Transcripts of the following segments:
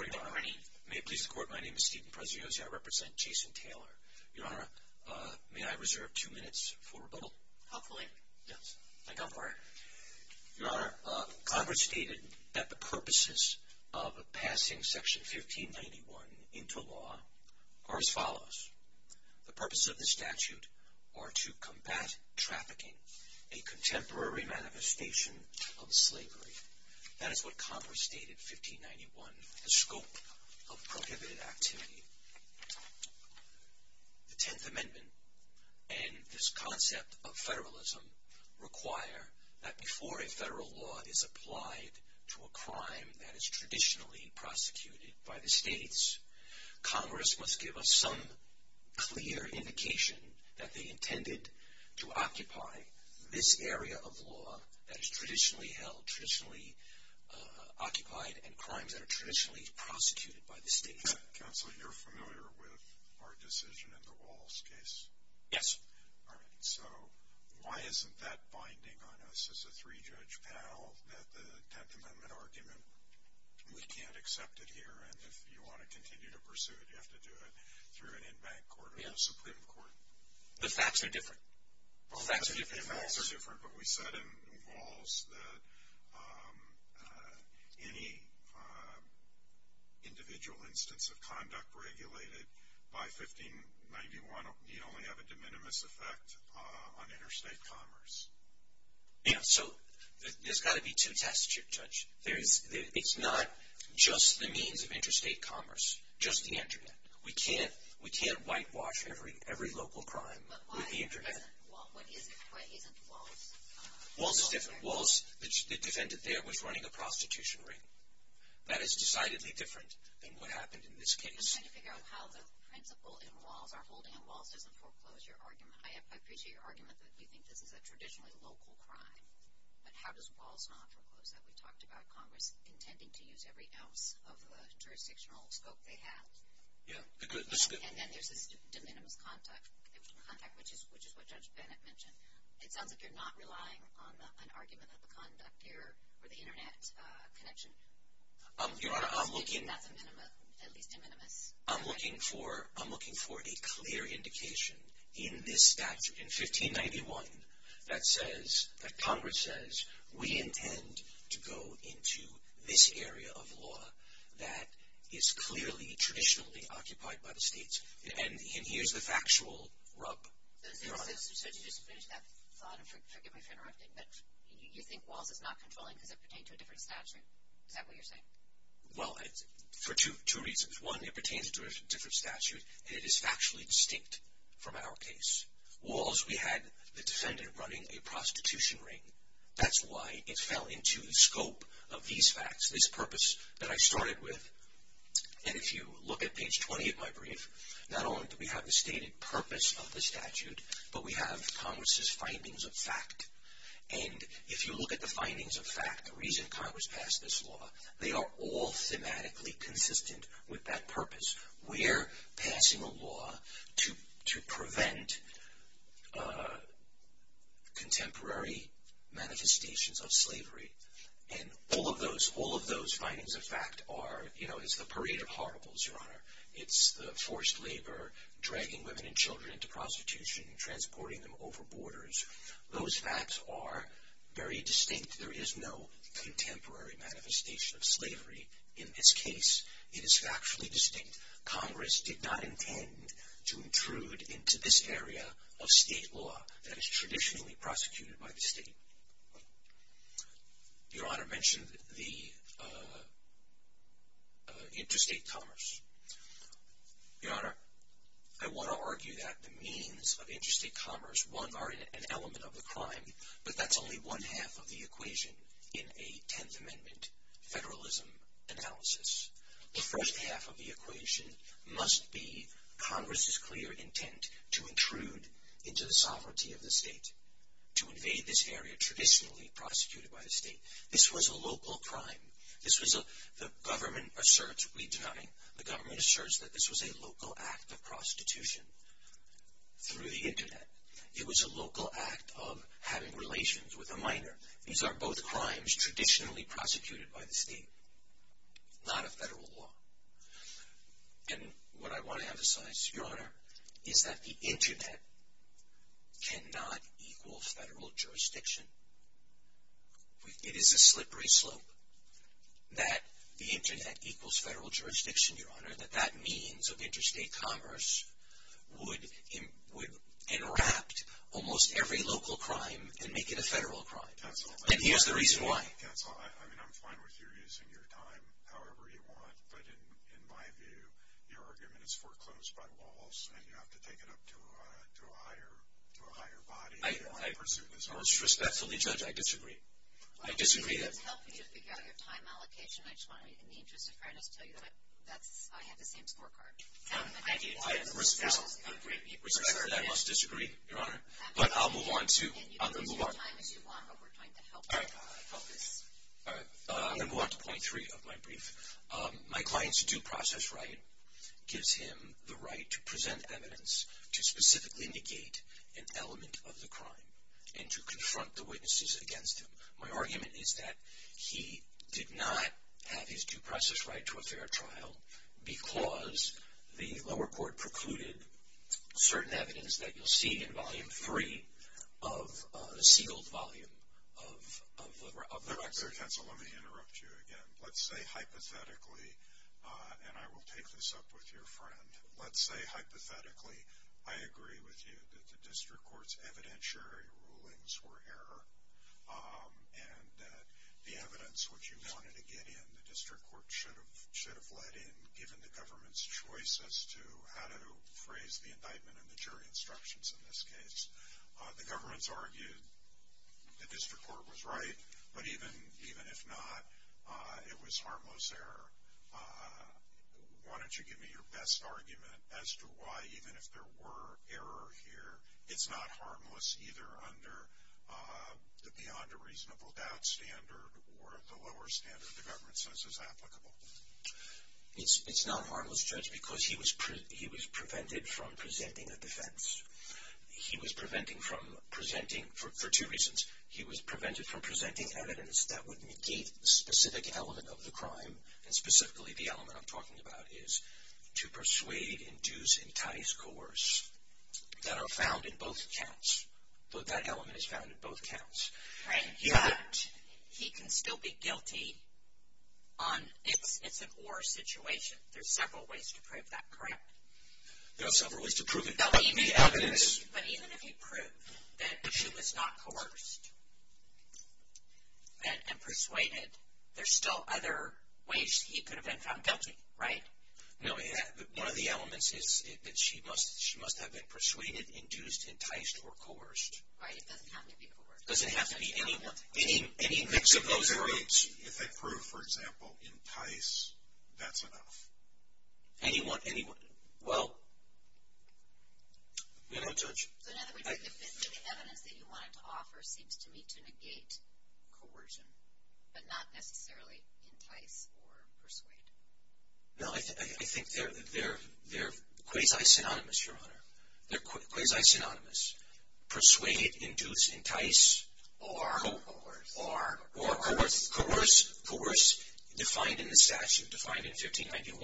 Good morning, Your Honor. May it please the Court, my name is Stephen Preziosi. I represent Jason Taylor. Your Honor, may I reserve two minutes for rebuttal? Hopefully. Yes. Thank God for it. Your Honor, Congress stated that the purposes of passing Section 1591 into law are as follows. The purposes of this statute are to combat trafficking, a contemporary manifestation of slavery. That is what Congress stated in 1591, the scope of prohibited activity. The Tenth Amendment and this concept of federalism require that before a federal law is applied to a crime that is traditionally prosecuted by the states, Congress must give us some clear indication that they intended to occupy this area of law that is traditionally held, traditionally occupied, and crimes that are traditionally prosecuted by the states. Counsel, you're familiar with our decision in the Walls case? Yes. All right, so why isn't that binding on us as a three-judge panel that the Tenth Amendment argument, we can't accept it here, and if you want to continue to pursue it, you have to do it through an in-bank court or a Supreme Court? The facts are different. The facts are different, but we said in Walls that any individual instance of conduct regulated by 1591 need only have a de minimis effect on interstate commerce. Yes, so there's got to be two tests, Judge. It's not just the means of interstate commerce, just the Internet. We can't whitewash every local crime with the Internet. Why isn't Walls? Walls is different. Walls, the defendant there was running a prostitution ring. That is decidedly different than what happened in this case. I'm trying to figure out how the principle in Walls, our holding in Walls doesn't foreclose your argument. I appreciate your argument that you think this is a traditionally local crime, but how does Walls not foreclose that? We talked about Congress intending to use every ounce of the jurisdictional scope they have. Yes, the scope. And then there's this de minimis contact, which is what Judge Bennett mentioned. It sounds like you're not relying on an argument of the conduct here or the Internet connection. Your Honor, I'm looking for a clear indication in this statute, in 1591, that says, that Congress says, we intend to go into this area of law that is clearly traditionally occupied by the states. And here's the factual rub, Your Honor. So to just finish that thought, and forgive me for interrupting, but you think Walls is not controlling because it pertains to a different statute? Is that what you're saying? Well, for two reasons. One, it pertains to a different statute, and it is factually distinct from our case. Walls, we had the defendant running a prostitution ring. That's why it fell into the scope of these facts, this purpose that I started with. And if you look at page 20 of my brief, not only do we have the stated purpose of the statute, but we have Congress's findings of fact. And if you look at the findings of fact, the reason Congress passed this law, they are all thematically consistent with that purpose. We're passing a law to prevent contemporary manifestations of slavery. And all of those findings of fact are, you know, it's the parade of horribles, Your Honor. It's the forced labor, dragging women and children into prostitution, transporting them over borders. Those facts are very distinct. There is no contemporary manifestation of slavery in this case. It is factually distinct. Congress did not intend to intrude into this area of state law that is traditionally prosecuted by the state. Your Honor mentioned the interstate commerce. Your Honor, I want to argue that the means of interstate commerce, one, are an element of the crime, but that's only one half of the equation in a Tenth Amendment federalism analysis. The first half of the equation must be Congress's clear intent to intrude into the sovereignty of the state, to invade this area traditionally prosecuted by the state. This was a local crime. This was a, the government asserts, we deny, the government asserts that this was a local act of prostitution through the Internet. It was a local act of having relations with a minor. These are both crimes traditionally prosecuted by the state, not a federal law. And what I want to emphasize, Your Honor, is that the Internet cannot equal federal jurisdiction. It is a slippery slope that the Internet equals federal jurisdiction, Your Honor, that that means of interstate commerce would enwrap almost every local crime and make it a federal crime. And here's the reason why. Counsel, I mean, I'm fine with you using your time however you want, but in my view your argument is foreclosed by walls and you have to take it up to a higher body. I most respectfully judge I disagree. I disagree. It's helpful to figure out your time allocation. I just want to, in the interest of fairness, tell you that I have the same scorecard. I do. Respectfully, I must disagree, Your Honor. But I'll move on to, I'm going to move on. And you can use your time as you want, but we're trying to help this. All right. I'm going to move on to point three of my brief. My client's due process right gives him the right to present evidence to specifically negate an element of the crime and to confront the witnesses against him. My argument is that he did not have his due process right to a fair trial because the lower court precluded certain evidence that you'll see in Volume 3 of the sealed volume of the record. Mr. Kentzel, let me interrupt you again. Let's say hypothetically, and I will take this up with your friend, let's say hypothetically I agree with you that the district court's evidentiary rulings were error and that the evidence which you wanted to get in, the district court should have let in, given the government's choice as to how to phrase the indictment and the jury instructions in this case. The government's argued the district court was right, but even if not, it was harmless error. Why don't you give me your best argument as to why even if there were error here, it's not harmless either under the beyond a reasonable doubt standard or the lower standard the government says is applicable. It's not harmless, Judge, because he was prevented from presenting a defense. He was preventing from presenting for two reasons. He was prevented from presenting evidence that would negate the specific element of the crime, and specifically the element I'm talking about is to persuade, induce, entice, coerce that are found in both counts. That element is found in both counts. He can still be guilty on it's an or situation. There's several ways to prove that, correct? There are several ways to prove it. But even if he proved that she was not coerced and persuaded, there's still other ways he could have been found guilty, right? No, one of the elements is that she must have been persuaded, induced, enticed, or coerced. Right, it doesn't have to be coerced. It doesn't have to be any one. If they prove, for example, entice, that's enough. Any one, any one, well, you know, Judge. So in other words, the specific evidence that you wanted to offer seems to me to negate coercion, but not necessarily entice or persuade. No, I think they're quasi-synonymous, Your Honor. They're quasi-synonymous. Persuade, induce, entice, or coerce. Coerce, coerce, defined in the statute, defined in 1591,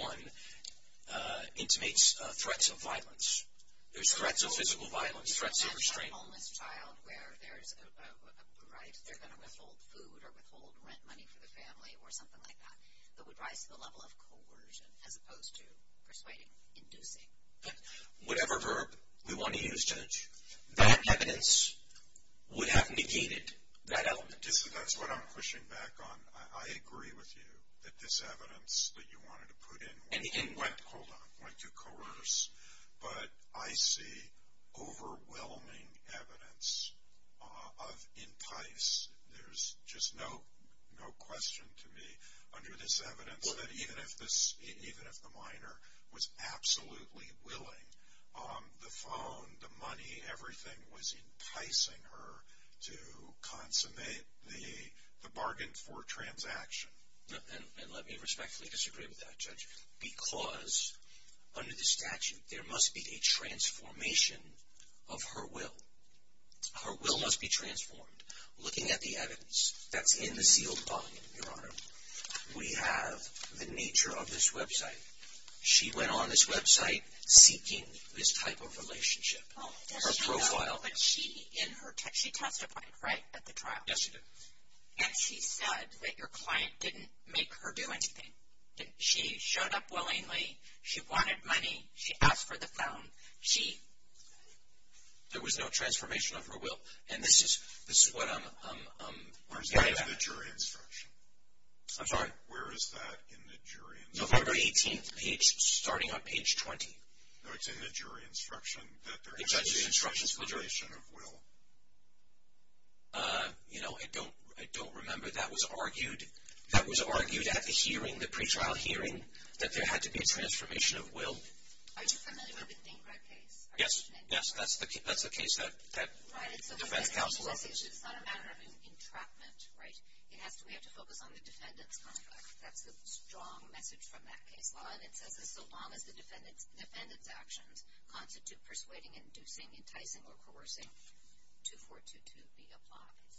intimates threats of violence. There's threats of physical violence, threats of restraint. A homeless child where there's a right, they're going to withhold food or withhold rent money for the family or something like that, that would rise to the level of coercion as opposed to persuading, inducing. Whatever verb we want to use, Judge, that evidence would have negated that element. That's what I'm pushing back on. I agree with you that this evidence that you wanted to put in went to coerce, but I see overwhelming evidence of entice. There's just no question to me under this evidence that even if the minor was absolutely willing, the phone, the money, everything was enticing her to consummate the bargain for transaction. And let me respectfully disagree with that, Judge, because under the statute there must be a transformation of her will. Her will must be transformed. Looking at the evidence that's in the sealed volume, Your Honor, we have the nature of this website. She went on this website seeking this type of relationship, her profile. But she testified, right, at the trial? Yes, she did. And she said that your client didn't make her do anything. She showed up willingly. She wanted money. She asked for the phone. There was no transformation of her will, and this is what I'm getting at. Where is that in the jury instruction? I'm sorry? Where is that in the jury instruction? November 18th page, starting on page 20. No, it's in the jury instruction that there has to be a transformation of will. You know, I don't remember that was argued. That was argued at the hearing, the pretrial hearing, that there had to be a transformation of will. Are you familiar with the Dinkrad case? Yes, that's the case that defense counsels. It's not a matter of entrapment, right? We have to focus on the defendant's contract. That's the strong message from that case law. And it says, as long as the defendant's actions constitute persuading, inducing, enticing, or coercing, 2422B applies.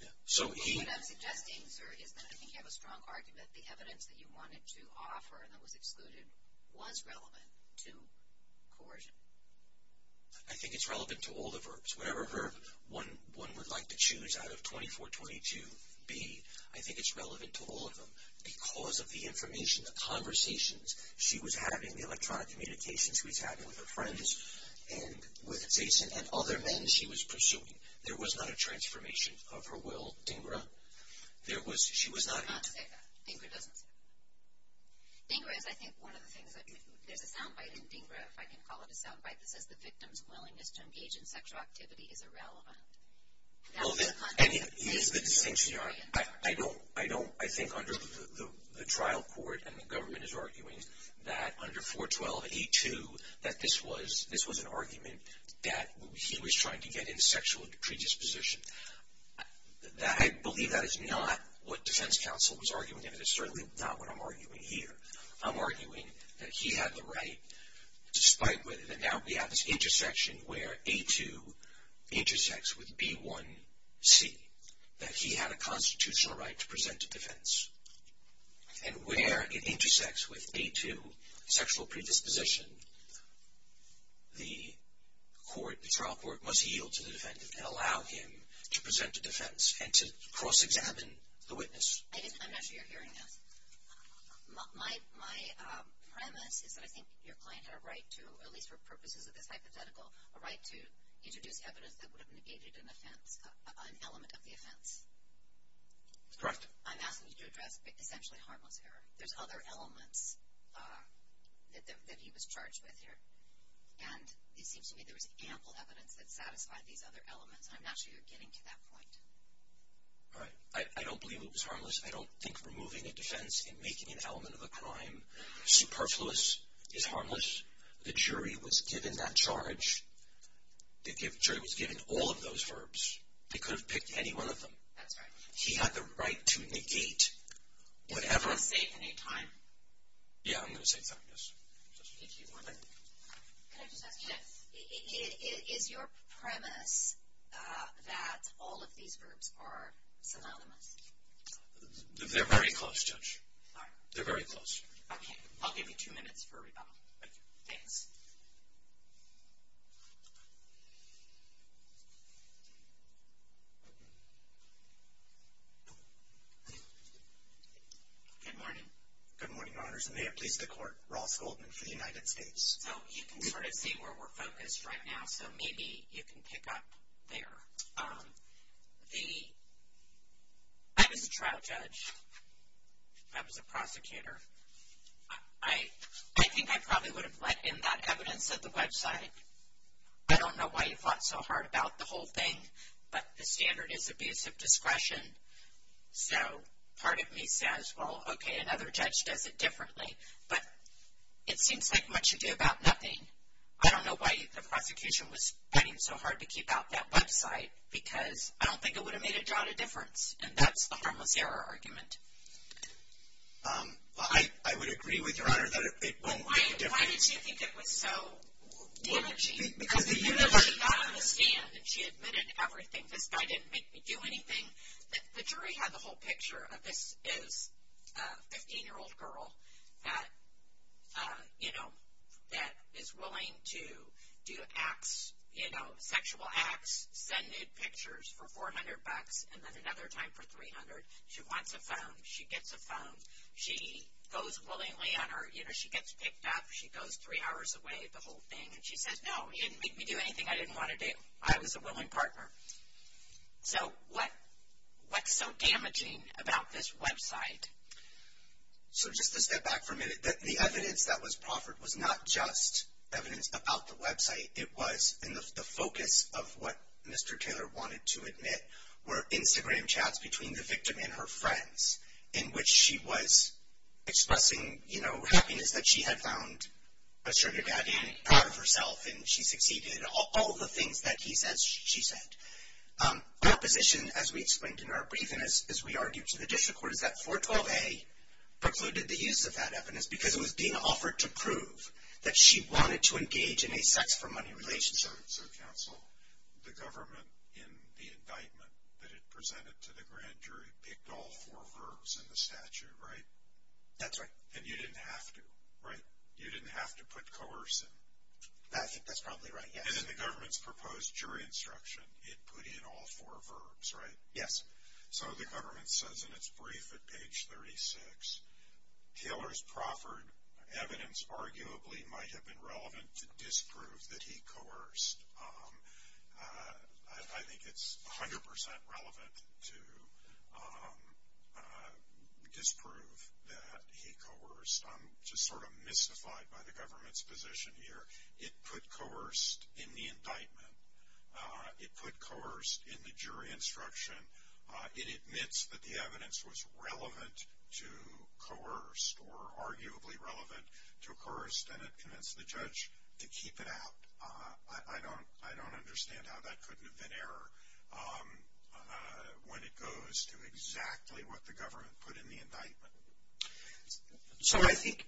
Yeah, so he- What I'm suggesting, sir, is that I think you have a strong argument. The evidence that you wanted to offer that was excluded was relevant to coercion. I think it's relevant to all the verbs. Whatever one would like to choose out of 2422B, I think it's relevant to all of them. Because of the information, the conversations she was having, the electronic communications she was having with her friends, and with Jason, and other men she was pursuing. There was not a transformation of her will, Dinkra. There was- she was not- I'm not saying that. Dinkra doesn't say that. Dinkra is, I think, one of the things that- there's a soundbite in Dinkra, if I can call it a soundbite, that says the victim's willingness to engage in sexual activity is irrelevant. That's a- And he is the distinction, Your Honor. I don't- I think under the trial court, and the government is arguing that under 412A2, that this was an argument that he was trying to get into sexual predisposition. I believe that is not what defense counsel was arguing, and it is certainly not what I'm arguing here. I'm arguing that he had the right, despite whether- that now we have this intersection where A2 intersects with B1C, that he had a constitutional right to present a defense. And where it intersects with A2, sexual predisposition, the court- the trial court must yield to the defendant and allow him to present a defense, and to cross-examine the witness. I'm not sure you're hearing this. My premise is that I think your client had a right to, at least for purposes of this hypothetical, a right to introduce evidence that would have negated an offense- an element of the offense. Correct. I'm asking you to address essentially harmless error. There's other elements that he was charged with here, and it seems to me there was ample evidence that satisfied these other elements. I'm not sure you're getting to that point. Right. I don't believe it was harmless. I don't think removing a defense and making an element of a crime superfluous is harmless. The jury was given that charge. The jury was given all of those verbs. They could have picked any one of them. That's right. He had the right to negate whatever- Do you want to save any time? Yeah, I'm going to save time, yes. Thank you. Can I just ask- Yes. Is your premise that all of these verbs are synonymous? They're very close, Judge. All right. They're very close. Okay. I'll give you two minutes for rebuttal. Thank you. Thanks. Good morning. Good morning, Your Honors. And may it please the Court, Ross Goldman for the United States. You can sort of see where we're focused right now, so maybe you can pick up there. I was a trial judge. I was a prosecutor. I think I probably would have let in that evidence at the website. I don't know why you fought so hard about the whole thing, but the standard is abuse of discretion. So part of me says, well, okay, another judge does it differently. But it seems like much ado about nothing. I don't know why the prosecution was fighting so hard to keep out that website because I don't think it would have made a jot of difference, and that's the harmless error argument. I would agree with Your Honor that it won't make a difference. But why did she think it was so damaging? Because even though she got on the stand and she admitted everything, this guy didn't make me do anything. The jury had the whole picture of this is a 15-year-old girl that, you know, that is willing to do acts, you know, sexual acts, send in pictures for $400, and then another time for $300. She wants a phone. She gets a phone. She goes willingly on her. You know, she gets picked up. She goes three hours away, the whole thing. And she says, no, he didn't make me do anything I didn't want to do. I was a willing partner. So what's so damaging about this website? So just to step back for a minute, the evidence that was proffered was not just evidence about the website. It was in the focus of what Mr. Taylor wanted to admit were Instagram chats between the victim and her friends in which she was expressing, you know, happiness that she had found a sugar daddy out of herself, and she succeeded. All of the things that he said, she said. Opposition, as we explained in our briefing, as we argued to the district court, is that 412A precluded the use of that evidence because it was being offered to prove that she wanted to engage in a sex-for-money relationship. So, counsel, the government in the indictment that it presented to the grand jury picked all four verbs in the statute, right? That's right. And you didn't have to, right? You didn't have to put coercive. I think that's probably right, yes. And then the government's proposed jury instruction, it put in all four verbs, right? Yes. So the government says in its brief at page 36, Taylor's proffered evidence arguably might have been relevant to disprove that he coerced. I think it's 100% relevant to disprove that he coerced. I'm just sort of mystified by the government's position here. It put coerced in the indictment. It put coerced in the jury instruction. It admits that the evidence was relevant to coerced or arguably relevant to coerced and it convinced the judge to keep it out. I don't understand how that couldn't have been error when it goes to exactly what the government put in the indictment. So I think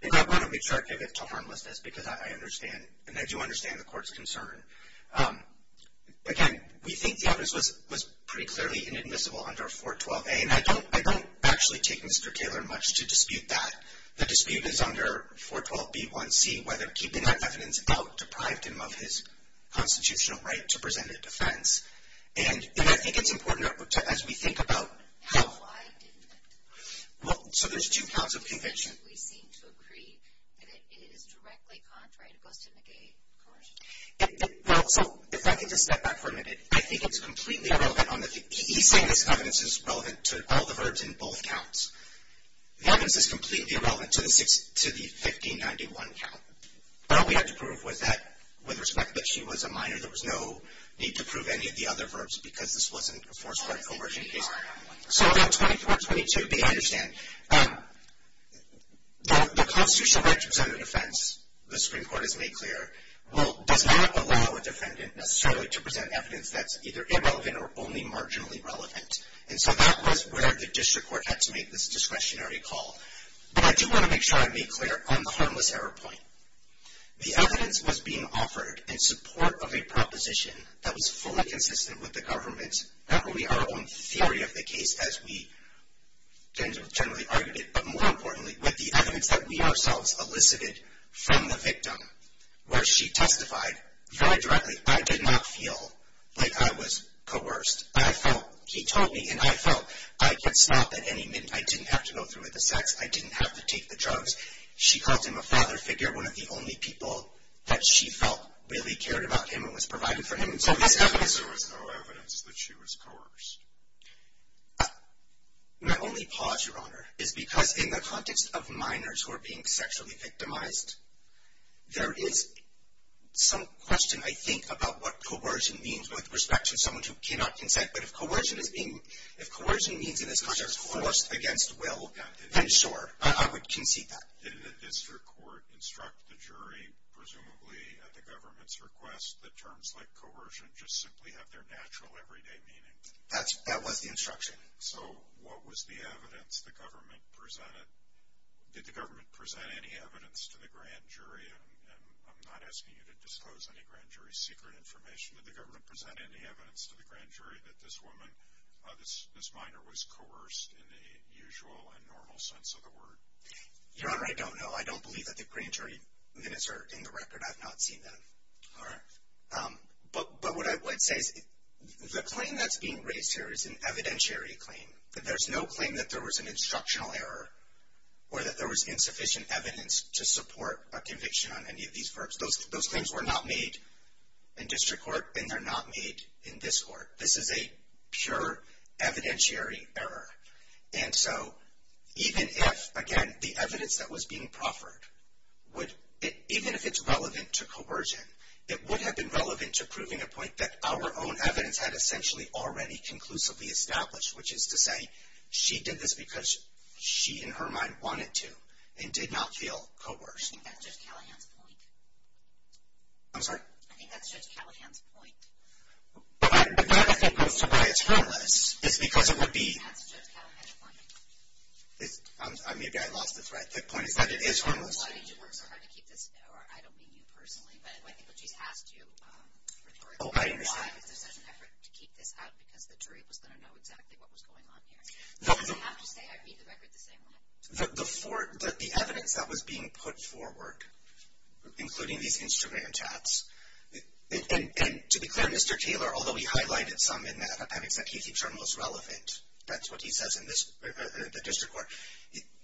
the government would be attractive to harmlessness because I understand and I do understand the court's concern. Again, we think the evidence was pretty clearly inadmissible under 412A and I don't actually take Mr. Taylor much to dispute that. The dispute is under 412B1C, whether keeping that evidence out deprived him of his constitutional right to present a defense. And I think it's important as we think about how. Well, so there's two counts of conviction. Well, so if I can just step back for a minute, I think it's completely irrelevant on the, he's saying this evidence is relevant to all the verbs in both counts. The evidence is completely irrelevant to the 1591 count. All we had to prove was that with respect that she was a minor, there was no need to prove any of the other verbs because this wasn't a forced, rightful version of the case. So about 2422B, I understand. The constitutional right to present a defense, the Supreme Court has made clear, does not allow a defendant necessarily to present evidence that's either irrelevant or only marginally relevant. And so that was where the district court had to make this discretionary call. But I do want to make sure I make clear on the harmless error point. The evidence was being offered in support of a proposition that was fully consistent with the government's, not only our own theory of the case as we generally argued it, but more importantly with the evidence that we ourselves elicited from the victim where she testified very directly, I did not feel like I was coerced. I felt, he told me, and I felt I could stop at any minute. I didn't have to go through with the sex. I didn't have to take the drugs. She called him a father figure, one of the only people that she felt really cared about him and was providing for him. So there was no evidence that she was coerced. My only pause, Your Honor, is because in the context of minors who are being sexually victimized, there is some question I think about what coercion means with respect to someone who cannot consent. But if coercion means in this context force against will, then sure. I would concede that. Did the district court instruct the jury, presumably at the government's request, that terms like coercion just simply have their natural everyday meaning? That was the instruction. So what was the evidence the government presented? Did the government present any evidence to the grand jury? I'm not asking you to disclose any grand jury secret information. Did the government present any evidence to the grand jury that this woman, this minor, was coerced in the usual and normal sense of the word? Your Honor, I don't know. I don't believe that the grand jury minutes are in the record. I've not seen them. But what I would say is the claim that's being raised here is an evidentiary claim. There's no claim that there was an instructional error or that there was insufficient evidence to support a conviction on any of these verbs. Those claims were not made in district court, and they're not made in this court. This is a pure evidentiary error. And so even if, again, the evidence that was being proffered, even if it's relevant to coercion, it would have been relevant to proving a point that our own evidence had essentially already conclusively established, which is to say she did this because she in her mind wanted to and did not feel coerced. I think that's Judge Callahan's point. I'm sorry? I think that's Judge Callahan's point. But I don't think that's why it's harmless. It's because it would be... Maybe I lost the thread. The point is that it is harmless. Oh, I understand. The evidence that was being put forward, including these instrument tabs, and to be clear, Mr. Taylor, although he highlighted some in that, having said he keeps our most relevant, that's what he says in the district court,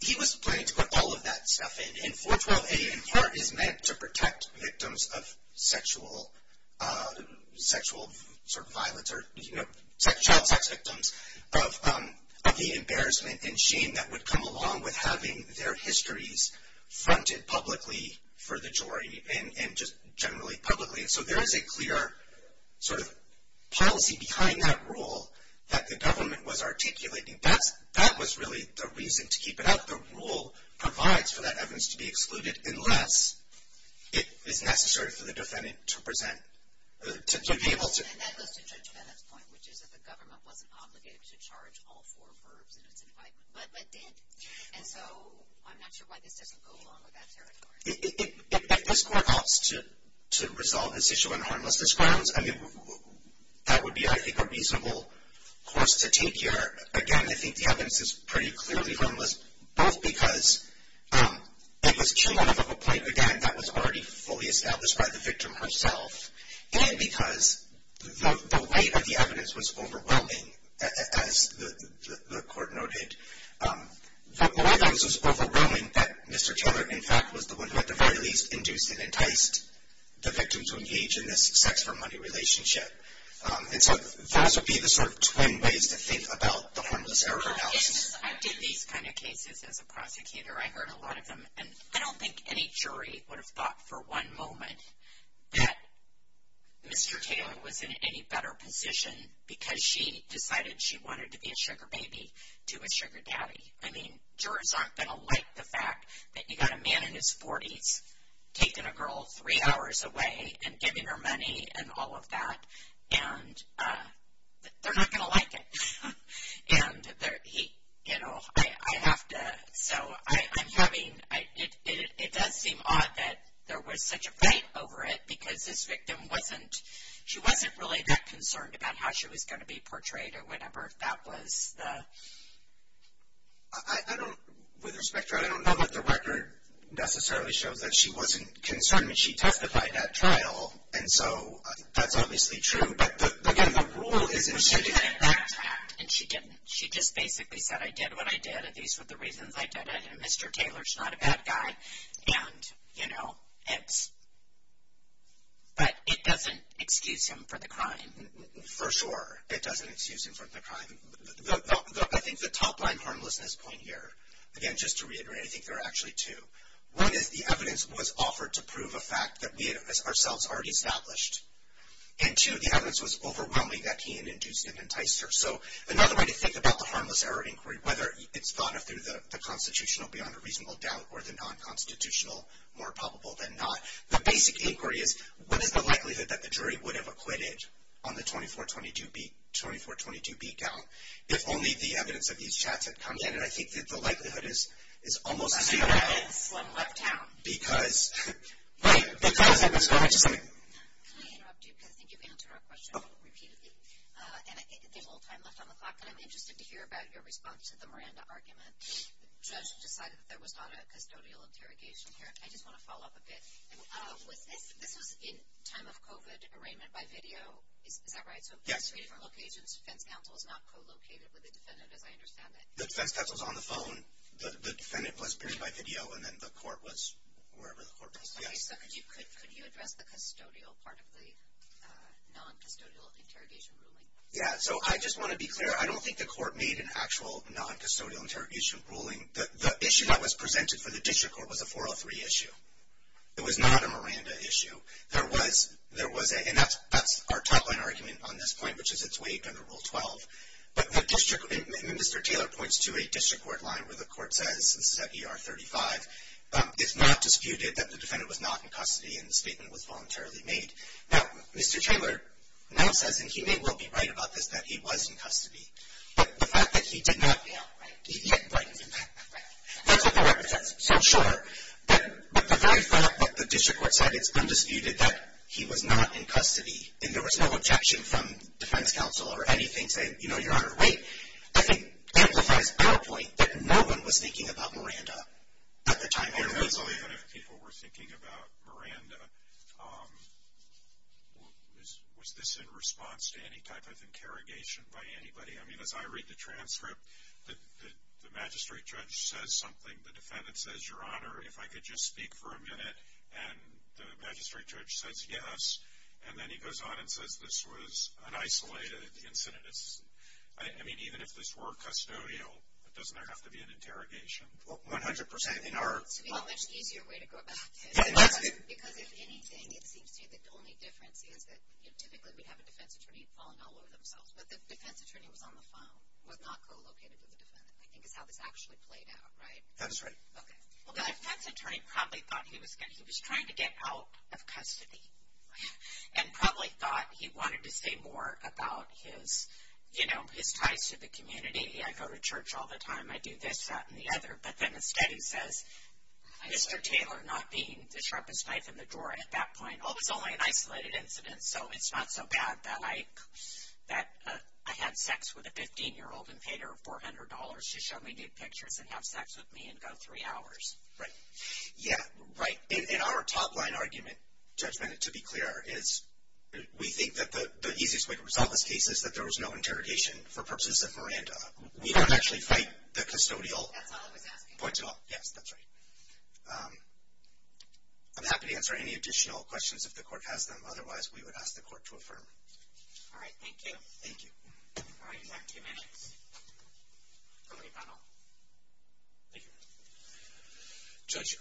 he was planning to put all of that stuff in. And 412-884 is meant to protect victims of sexual sort of violence or child sex victims of the embarrassment and shame that would come along with having their histories fronted publicly for the jury and just generally publicly. So there is a clear sort of policy behind that rule that the government was articulating. That was really the reason to keep it out. The rule provides for that evidence to be excluded unless it is necessary for the defendant to present. And that goes to Judge Bennett's point, which is that the government wasn't obligated to charge all four verbs in its indictment, but did. And so I'm not sure why this doesn't go along with that territory. If this court opts to resolve this issue on harmless grounds, I mean, that would be, I think, a reasonable course to take here. Again, I think the evidence is pretty clearly harmless, both because it was cumulative of a point, again, that was already fully established by the victim herself, and because the weight of the evidence was overwhelming, as the court noted. The weight of it was overwhelming that Mr. Taylor, in fact, was the one who at the very least induced and enticed the victim to engage in this sex-for-money relationship. And so those would be the sort of twin ways to think about the harmless error analysis. I did these kind of cases as a prosecutor. I heard a lot of them, and I don't think any jury would have thought for one moment that Mr. Taylor was in any better position because she decided she wanted to be a sugar baby to a sugar daddy. I mean, jurors aren't going to like the fact that you've got a man in his 40s taking a girl three hours away and giving her money and all of that, and they're not going to like it. And he, you know, I have to, so I'm having, it does seem odd that there was such a fight over it because this victim wasn't, she wasn't really that concerned about how she was going to be portrayed or whatever, if that was the... I don't, with respect to her, I don't know that the record necessarily shows that she wasn't concerned. I mean, she testified at trial, and so that's obviously true. But again, the rule is... But she didn't backtrack, and she didn't. She just basically said, I did what I did, and these were the reasons I did it, and Mr. Taylor's not a bad guy, and, you know, it's... But it doesn't excuse him for the crime. For sure, it doesn't excuse him for the crime. I think the top line harmlessness point here, again, just to reiterate, I think there are actually two. One is the evidence was offered to prove a fact that we had ourselves already established, and two, the evidence was overwhelming that he had induced and enticed her. So another way to think about the harmless error inquiry, whether it's thought of through the constitutional beyond a reasonable doubt or the non-constitutional more probable than not, the basic inquiry is what is the likelihood that the jury would have acquitted on the 24-22B count if only the evidence of these chats had come in? And I think that the likelihood is almost zero. That's why I left town. Because... Right, because... Can I interrupt you because I think you've answered our question repeatedly, and there's a little time left on the clock, and I'm interested to hear about your response to the Miranda argument. The judge decided that there was not a custodial interrogation here. I just want to follow up a bit. This was in time of COVID arraignment by video, is that right? Yes. So it was two different locations. The defense counsel was not co-located with the defendant, as I understand it. The defense counsel was on the phone. The defendant was picked by video, and then the court was wherever the court was. Okay, so could you address the custodial part of the non-custodial interrogation ruling? Yeah, so I just want to be clear. I don't think the court made an actual non-custodial interrogation ruling. The issue that was presented for the district court was a 403 issue. It was not a Miranda issue. There was a, and that's our top line argument on this point, which is it's waived under Rule 12. But the district, and Mr. Taylor points to a district court line where the court says, this is at ER 35, it's not disputed that the defendant was not in custody, and the statement was voluntarily made. Now, Mr. Taylor now says, and he may well be right about this, that he was in custody. But the fact that he did not. Yeah, right. Right. That's what the record says. So, sure. But the very fact that the district court said it's undisputed that he was not in custody and there was no objection from defense counsel or anything saying, you know, you're under the weight, I think amplifies our point that no one was thinking about Miranda at the time. Even if people were thinking about Miranda, was this in response to any type of interrogation by anybody? I mean, as I read the transcript, the magistrate judge says something, the defendant says, Your Honor, if I could just speak for a minute, and the magistrate judge says yes, and then he goes on and says this was an isolated incident. I mean, even if this were custodial, doesn't there have to be an interrogation? Well, 100%. It's a much easier way to go about this. Because, if anything, it seems to me the only difference is that, you know, typically we'd have a defense attorney falling all over themselves. But the defense attorney was on the phone, was not co-located with the defendant, I think, is how this actually played out, right? That is right. Okay. Well, the defense attorney probably thought he was trying to get out of custody and probably thought he wanted to say more about his, you know, his ties to the community. I go to church all the time. I do this, that, and the other. But then instead he says, Mr. Taylor not being the sharpest knife in the drawer at that point, oh, it was only an isolated incident, so it's not so bad that I had sex with a 15-year-old and paid her $400 to show me nude pictures and have sex with me and go three hours. Right. Yeah, right. In our top-line argument, Judge Bennett, to be clear, is we think that the easiest way to resolve this case is that there was no interrogation for purposes of Miranda. We don't actually fight the custodial points at all. That's all I was asking. Yes, that's right. I'm happy to answer any additional questions if the court has them. Otherwise, we would ask the court to affirm. All right. Thank you. Thank you. All right. You have two minutes for rebuttal. Thank you. Judge,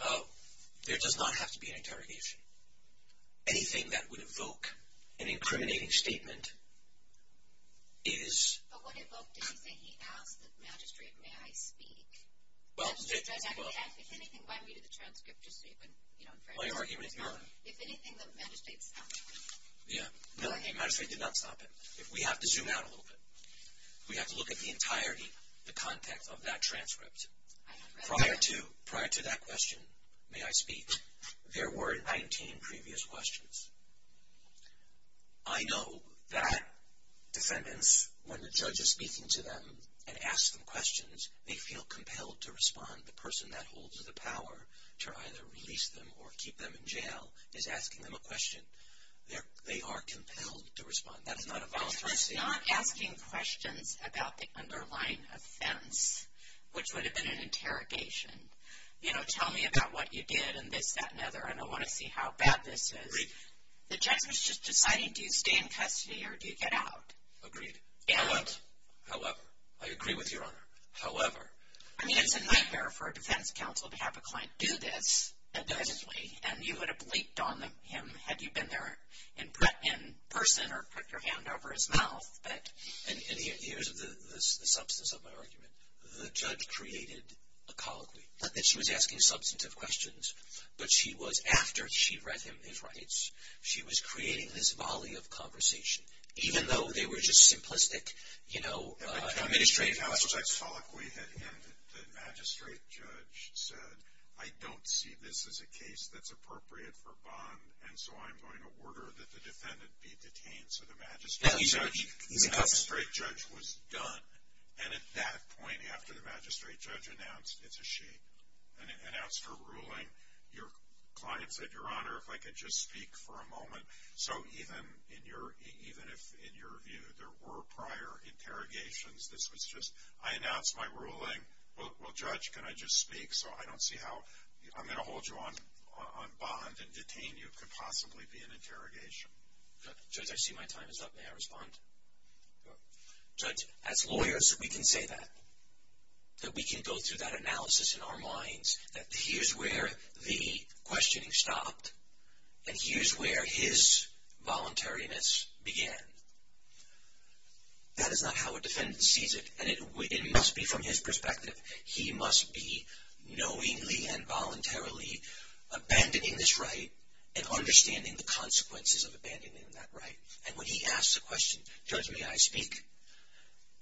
there does not have to be an interrogation. Anything that would evoke an incriminating statement is... But what evoked anything? He asked the magistrate, may I speak? Well... If anything, why read the transcript just so you can, you know... My argument is Miranda. If anything, the magistrate stopped him. Yeah. No, the magistrate did not stop him. We have to zoom out a little bit. We have to look at the entirety, the context of that transcript. Prior to that question, may I speak, there were 19 previous questions. I know that defendants, when the judge is speaking to them and asks them questions, they feel compelled to respond. The person that holds the power to either release them or keep them in jail is asking them a question. They are compelled to respond. That is not a voluntary statement. That's not asking questions about the underlying offense, which would have been an interrogation. You know, tell me about what you did and this, that, and other, and I want to see how bad this is. Agreed. The judge was just deciding, do you stay in custody or do you get out? Agreed. However... However... I agree with Your Honor. However... I mean, it's a nightmare for a defense counsel to have a client do this. Definitely. And you would have bleeped on him had you been there in person or put your hand over his mouth. And here's the substance of my argument. The judge created a colloquy, not that she was asking substantive questions, but she was, after she read him his rights, she was creating this volley of conversation, even though they were just simplistic, you know, administrative questions. The magistrate judge said, I don't see this as a case that's appropriate for bond, and so I'm going to order that the defendant be detained. And so the magistrate judge was done. And at that point, after the magistrate judge announced it's a she, announced her ruling, your client said, Your Honor, if I could just speak for a moment. So even if, in your view, there were prior interrogations, this was just, I announced my ruling, well, Judge, can I just speak so I don't see how I'm going to hold you on bond and detain you could possibly be an interrogation. Judge, I see my time is up. May I respond? Judge, as lawyers, we can say that, that we can go through that analysis in our minds, that here's where the questioning stopped, and here's where his voluntariness began. That is not how a defendant sees it, and it must be from his perspective. He must be knowingly and voluntarily abandoning this right and understanding the consequences of abandoning that right. And when he asks the question, Judge, may I speak?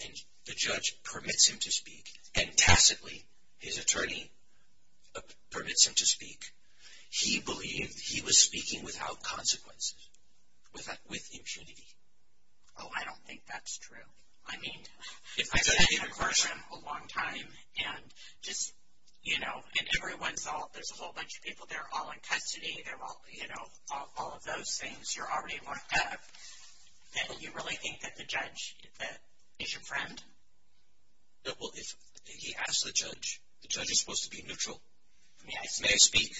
And the judge permits him to speak, and tacitly, his attorney permits him to speak. He believed he was speaking without consequences, with impunity. Oh, I don't think that's true. I mean, I've been a person a long time, and just, you know, and everyone's all, there's a whole bunch of people, they're all in custody, they're all, you know, all of those things you're already worked up. And you really think that the judge is your friend? No, well, if he asks the judge, the judge is supposed to be neutral. May I speak? May I speak?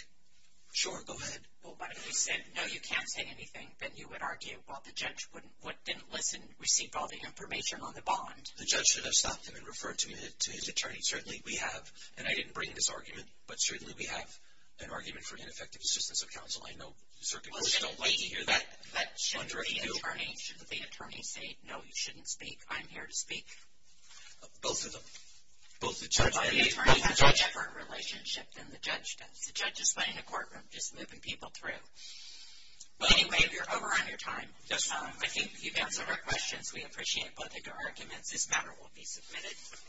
Sure, go ahead. Well, but if he said, no, you can't say anything, then you would argue, well, the judge didn't listen, received all the information on the bond. The judge should have stopped him and referred to his attorney. Certainly we have, and I didn't bring this argument, but certainly we have an argument for ineffective assistance of counsel. I know certain folks don't like to hear that. Well, shouldn't the attorney say, no, you shouldn't speak, I'm here to speak? Both of them. Both the judge and the attorney have a different relationship than the judge does. The judge is playing the courtroom, just moving people through. But anyway, we're over on your time. Yes, ma'am. I think you've answered our questions. We appreciate both of your arguments. This matter will be submitted.